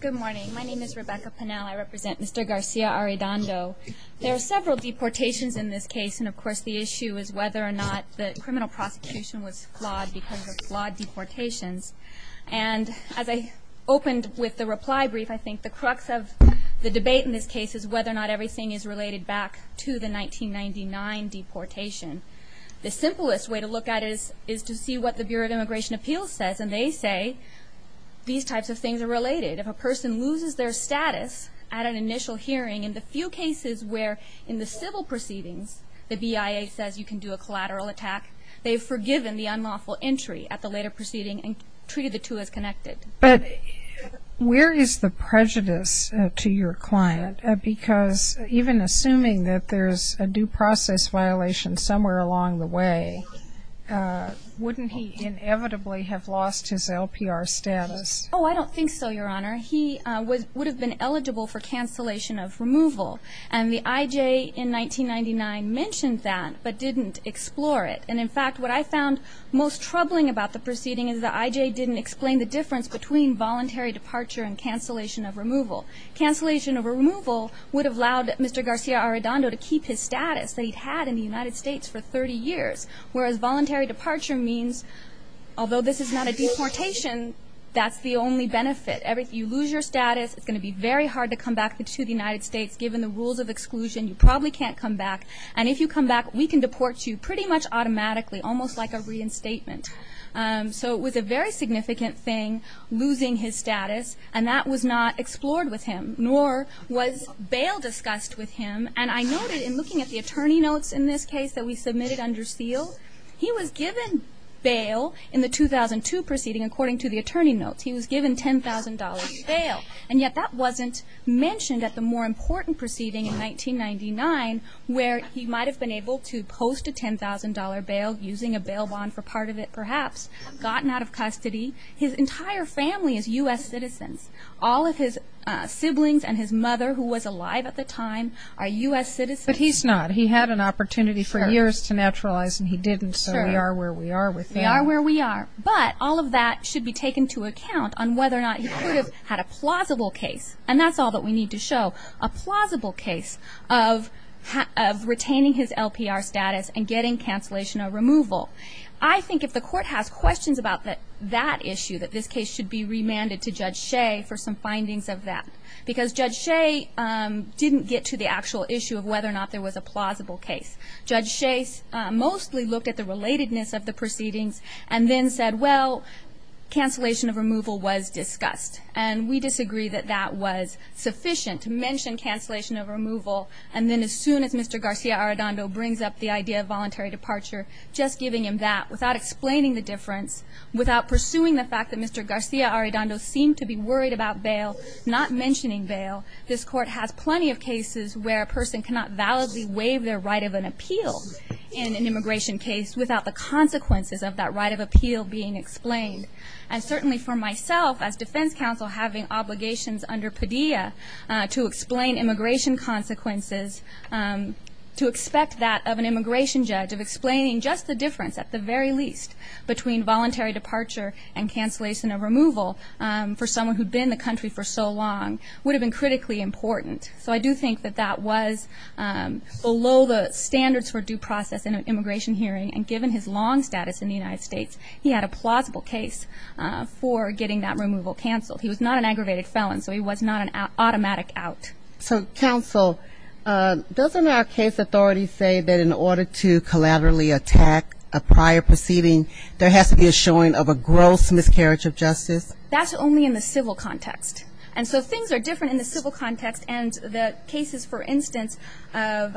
Good morning. My name is Rebecca Penel. I represent Mr. Garcia-Arredondo. There are several deportations in this case, and of course the issue is whether or not the criminal prosecution was flawed because of flawed deportations. And as I opened with the reply brief, I think the crux of the debate in this case is whether or not everything is related back to the 1999 deportation. The simplest way to look at it is to see what the Bureau of Immigration Appeals says, and they say these types of things are related. If a person loses their status at an initial hearing, in the few cases where in the civil proceedings the BIA says you can do a collateral attack, they've forgiven the unlawful entry at the later proceeding and treated the two as connected. But where is the prejudice to your client? Because even assuming that there's a due process violation somewhere along the way, wouldn't he inevitably have lost his LPR status? Oh, I don't think so, Your Honor. He would have been eligible for cancellation of removal, and the IJ in 1999 mentioned that but didn't explore it. And in fact, what I found most troubling about the proceeding is the IJ didn't explain the difference between voluntary departure and cancellation of removal. Cancellation of removal would have allowed Mr. Garcia-Arredondo to keep his status that he'd had in the United States for 30 years, whereas voluntary departure means, although this is not a deportation, that's the only benefit. If you lose your status, it's going to be very hard to come back to the United States. Given the rules of exclusion, you probably can't come back. And if you come back, we can deport you pretty much automatically, almost like a reinstatement. So it was a very significant thing losing his status, and that was not explored with him, nor was bail discussed with him. And I noted in looking at the attorney notes in this case that we submitted under seal, he was given bail in the 2002 proceeding according to the attorney notes. He was given $10,000 bail, and yet that wasn't mentioned at the more important proceeding in 1999 where he might have been able to post a $10,000 bail using a bail bond for part of it perhaps, gotten out of custody. His entire family is U.S. citizens. All of his siblings and his mother, who was alive at the time, are U.S. citizens. But he's not. He had an opportunity for years to naturalize, and he didn't, so we are where we are with him. We are where we are. But all of that should be taken into account on whether or not he could have had a plausible case, and that's all that we need to show, a plausible case of retaining his LPR status and getting cancellation or removal. I think if the court has questions about that issue, that this case should be remanded to Judge Shea for some findings of that, because Judge Shea didn't get to the actual issue of whether or not there was a plausible case. Judge Shea mostly looked at the relatedness of the proceedings and then said, well, cancellation of removal was discussed, and we disagree that that was sufficient to mention cancellation of removal. And then as soon as Mr. Garcia-Arredondo brings up the idea of voluntary departure, just giving him that without explaining the difference, without pursuing the fact that Mr. Garcia-Arredondo seemed to be worried about bail, not mentioning bail, this Court has plenty of cases where a person cannot validly waive their right of an appeal in an immigration case without the consequences of that right of appeal being explained. And certainly for myself, as defense counsel, having obligations under Padilla to explain immigration consequences, to expect that of an immigration judge, of explaining just the difference at the very least between voluntary departure and cancellation of removal for someone who'd been in the country for so long, would have been critically important. So I do think that that was below the standards for due process in an immigration hearing, and given his long status in the United States, he had a plausible case for getting that removal canceled. He was not an aggravated felon, so he was not an automatic out. So, counsel, doesn't our case authority say that in order to collaterally attack a prior proceeding, there has to be a showing of a gross miscarriage of justice? That's only in the civil context. And so things are different in the civil context, and the cases, for instance, of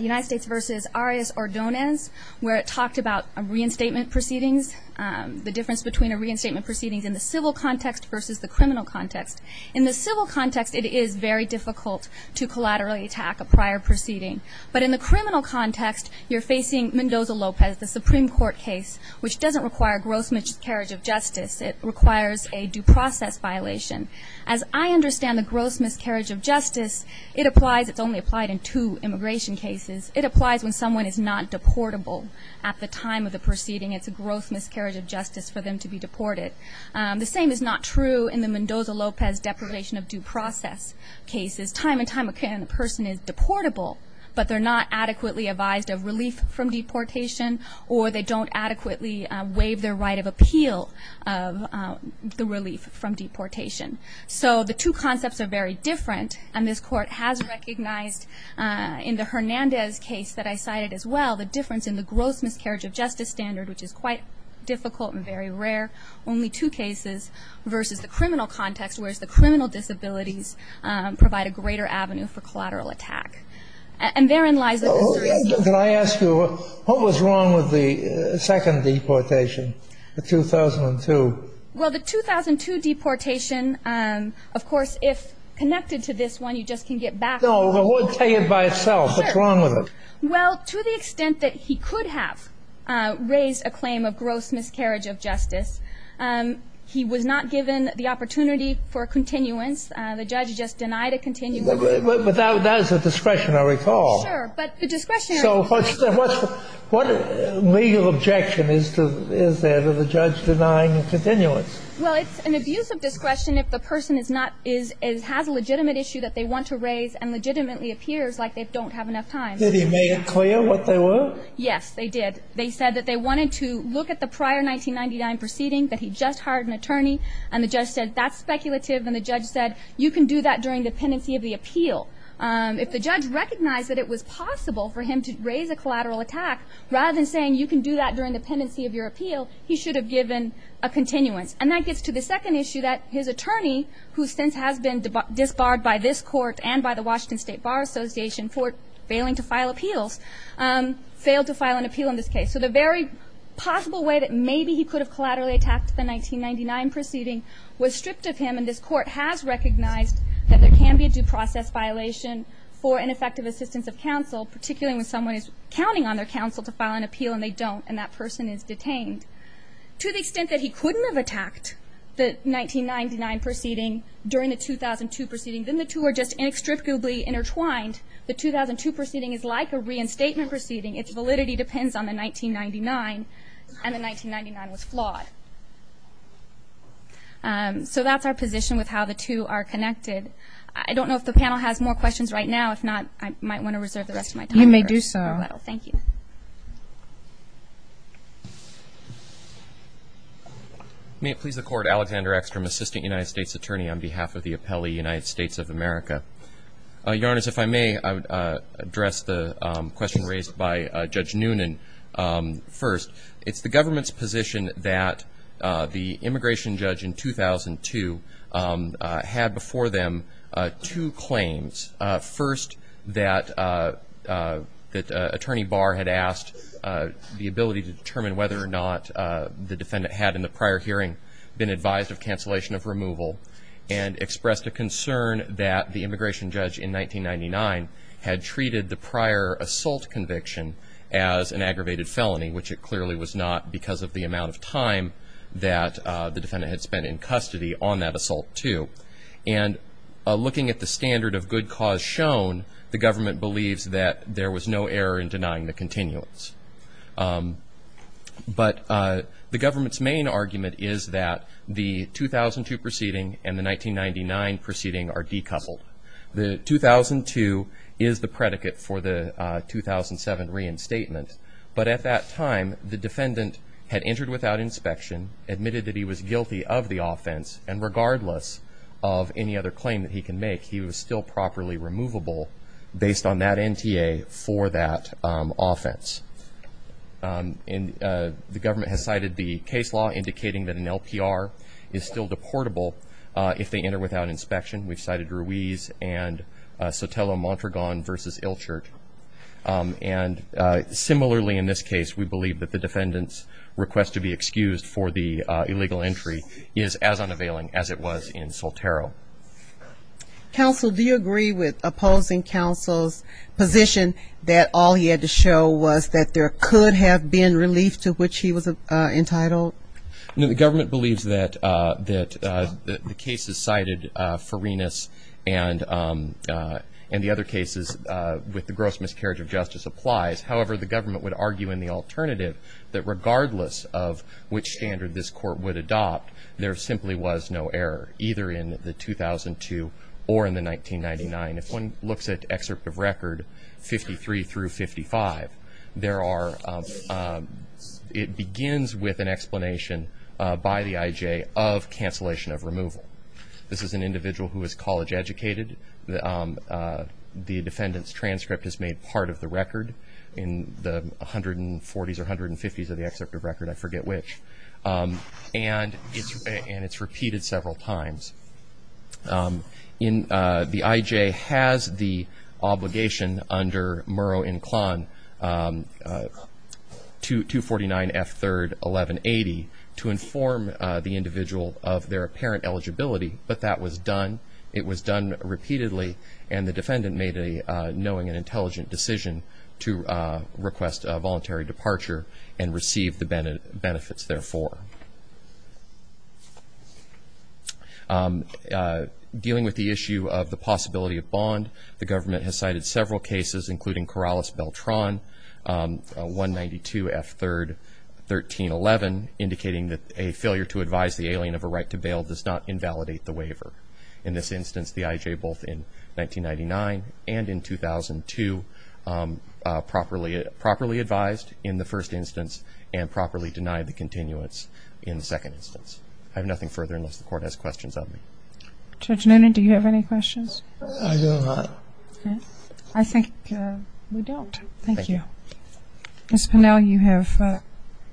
United States v. Arias-Ordonez, where it talked about reinstatement proceedings, the difference between a reinstatement proceedings in the civil context versus the criminal context. In the civil context, it is very difficult to collaterally attack a prior proceeding. But in the criminal context, you're facing Mendoza-Lopez, the Supreme Court case, which doesn't require gross miscarriage of justice. It requires a due process violation. As I understand the gross miscarriage of justice, it applies. It's only applied in two immigration cases. It applies when someone is not deportable at the time of the proceeding. It's a gross miscarriage of justice for them to be deported. The same is not true in the Mendoza-Lopez deprivation of due process cases. Time and time again, a person is deportable, but they're not adequately advised of relief from deportation, or they don't adequately waive their right of appeal of the relief from deportation. So the two concepts are very different, and this Court has recognized in the Hernandez case that I cited as well, the difference in the gross miscarriage of justice standard, which is quite difficult and very rare. Only two cases versus the criminal context, whereas the criminal disabilities provide a greater avenue for collateral attack. And therein lies the history of the case. Can I ask you, what was wrong with the second deportation, the 2002? Well, the 2002 deportation, of course, if connected to this one, you just can get back to it. No, well, tell it by itself. Sure. What's wrong with it? Well, to the extent that he could have raised a claim of gross miscarriage of justice, he was not given the opportunity for continuance. The judge just denied a continuance. But that was a discretionary call. Sure, but the discretionary call. So what legal objection is there to the judge denying continuance? Well, it's an abuse of discretion if the person has a legitimate issue that they want to raise and legitimately appears like they don't have enough time. Did he make it clear what they were? Yes, they did. They said that they wanted to look at the prior 1999 proceeding, that he just hired an attorney, and the judge said that's speculative, and the judge said you can do that during the pendency of the appeal. If the judge recognized that it was possible for him to raise a collateral attack, rather than saying you can do that during the pendency of your appeal, he should have given a continuance. And that gets to the second issue, that his attorney, who since has been disbarred by this court and by the Washington State Bar Association for failing to file appeals, failed to file an appeal in this case. So the very possible way that maybe he could have collaterally attacked the 1999 proceeding was stripped of him, and this court has recognized that there can be a due process violation for ineffective assistance of counsel, particularly when someone is counting on their counsel to file an appeal and they don't and that person is detained. To the extent that he couldn't have attacked the 1999 proceeding during the 2002 proceeding, then the two are just inextricably intertwined. The 2002 proceeding is like a reinstatement proceeding. Its validity depends on the 1999, and the 1999 was flawed. So that's our position with how the two are connected. I don't know if the panel has more questions right now. If not, I might want to reserve the rest of my time. You may do so. Thank you. May it please the Court, Alexander Eckstrom, Assistant United States Attorney, on behalf of the Appellee United States of America. Your Honors, if I may, I would address the question raised by Judge Noonan first. It's the government's position that the immigration judge in 2002 had before them two claims. First, that Attorney Barr had asked the ability to determine whether or not the defendant had in the prior hearing been advised of cancellation of removal and expressed a concern that the immigration judge in 1999 had treated the prior assault conviction as an aggravated felony, which it clearly was not because of the amount of time that the defendant had spent in custody on that assault too. And looking at the standard of good cause shown, the government believes that there was no error in denying the continuance. But the government's main argument is that the 2002 proceeding and the 1999 proceeding are decoupled. The 2002 is the predicate for the 2007 reinstatement, but at that time the defendant had entered without inspection, admitted that he was guilty of the offense, and regardless of any other claim that he can make, he was still properly removable based on that NTA for that offense. And the government has cited the case law indicating that an LPR is still deportable if they enter without inspection. We've cited Ruiz and Sotelo-Montragon v. Ilchert. And similarly in this case, we believe that the defendant's request to be excused for the illegal entry is as unavailing as it was in Sotelo. Counsel, do you agree with opposing counsel's position that all he had to show was that there could have been relief to which he was entitled? No, the government believes that the cases cited for Ruiz and the other cases with the gross miscarriage of justice applies. However, the government would argue in the alternative that regardless of which standard this court would adopt, there simply was no error, either in the 2002 or in the 1999. If one looks at excerpt of record 53 through 55, it begins with an explanation by the IJ of cancellation of removal. This is an individual who is college educated. The defendant's transcript is made part of the record. In the 140s or 150s of the excerpt of record, I forget which. And it's repeated several times. The IJ has the obligation under Murrow and Klon 249F3-1180 to inform the individual of their apparent eligibility, but that was done. It was done repeatedly, and the defendant made a knowing and intelligent decision to request a voluntary departure and receive the benefits therefore. Dealing with the issue of the possibility of bond, the government has cited several cases including Corrales-Beltran 192F3-1311, indicating that a failure to advise the alien of a right to bail does not invalidate the waiver. In this instance, the IJ both in 1999 and in 2002 properly advised in the first instance and properly denied the continuance in the second instance. I have nothing further unless the Court has questions of me. Judge Noonan, do you have any questions? I do not. I think we don't. Thank you. Ms. Pinnell, you have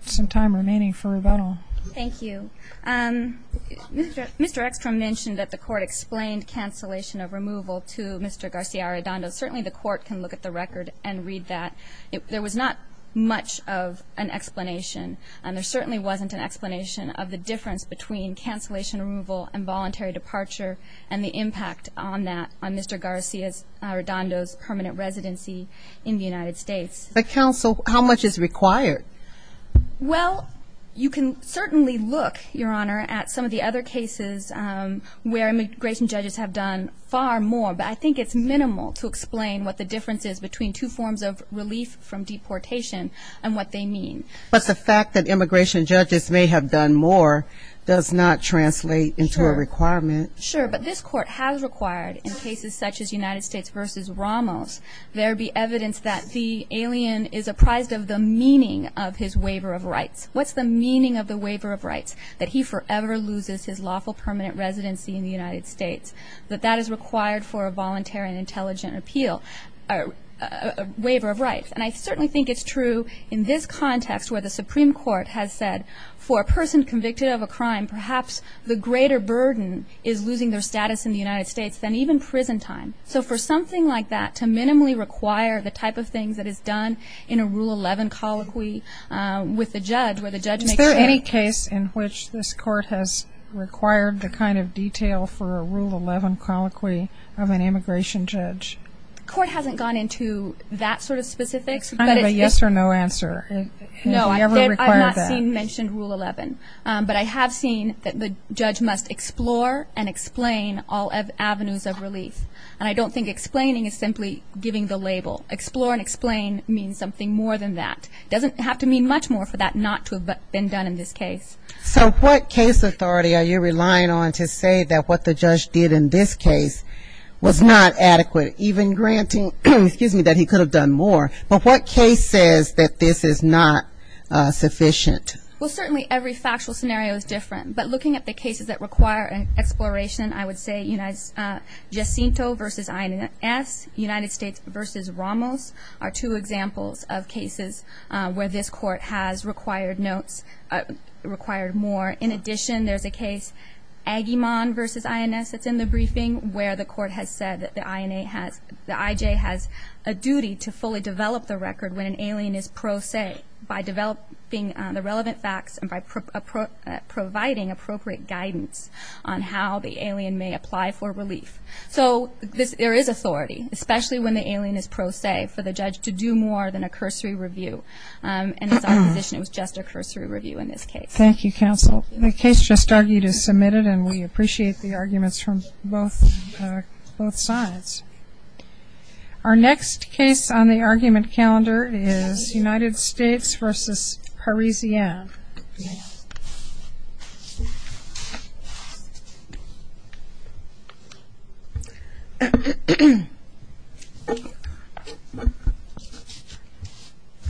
some time remaining for rebuttal. Thank you. Mr. Ekstrom mentioned that the Court explained cancellation of removal to Mr. Garcia-Arredondo. Certainly the Court can look at the record and read that. There was not much of an explanation, and there certainly wasn't an explanation of the difference between cancellation removal and voluntary departure and the impact on that, on Mr. Garcia-Arredondo's permanent residency in the United States. But counsel, how much is required? Well, you can certainly look, Your Honor, at some of the other cases where immigration judges have done far more. But I think it's minimal to explain what the difference is between two forms of relief from deportation and what they mean. But the fact that immigration judges may have done more does not translate into a requirement. Sure. But this Court has required in cases such as United States v. Ramos, there be evidence that the alien is apprised of the meaning of his waiver of rights. What's the meaning of the waiver of rights? That he forever loses his lawful permanent residency in the United States. That that is required for a voluntary and intelligent appeal, a waiver of rights. And I certainly think it's true in this context where the Supreme Court has said, for a person convicted of a crime, perhaps the greater burden is losing their status in the United States than even prison time. So for something like that, to minimally require the type of things that is done in a Rule 11 colloquy with the judge, where the judge makes sure. Is there any case in which this Court has required the kind of detail for a Rule 11 colloquy of an immigration judge? The Court hasn't gone into that sort of specifics. Kind of a yes or no answer. No, I've not seen mentioned Rule 11. But I have seen that the judge must explore and explain all avenues of relief. And I don't think explaining is simply giving the label. Explore and explain means something more than that. It doesn't have to mean much more for that not to have been done in this case. So what case authority are you relying on to say that what the judge did in this case was not adequate, even granting, excuse me, that he could have done more? But what case says that this is not sufficient? Well, certainly every factual scenario is different. But looking at the cases that require exploration, I would say Jacinto v. INS, United States v. Ramos, are two examples of cases where this Court has required notes, required more. In addition, there's a case, Aguiman v. INS, that's in the briefing, where the court has said that the IJ has a duty to fully develop the record when an alien is pro se, by developing the relevant facts and by providing appropriate guidance on how the alien may apply for relief. So there is authority, especially when the alien is pro se, for the judge to do more than a cursory review. And it's our position it was just a cursory review in this case. Thank you, counsel. The case just argued is submitted, and we appreciate the arguments from both sides. Our next case on the argument calendar is United States v. Parisienne.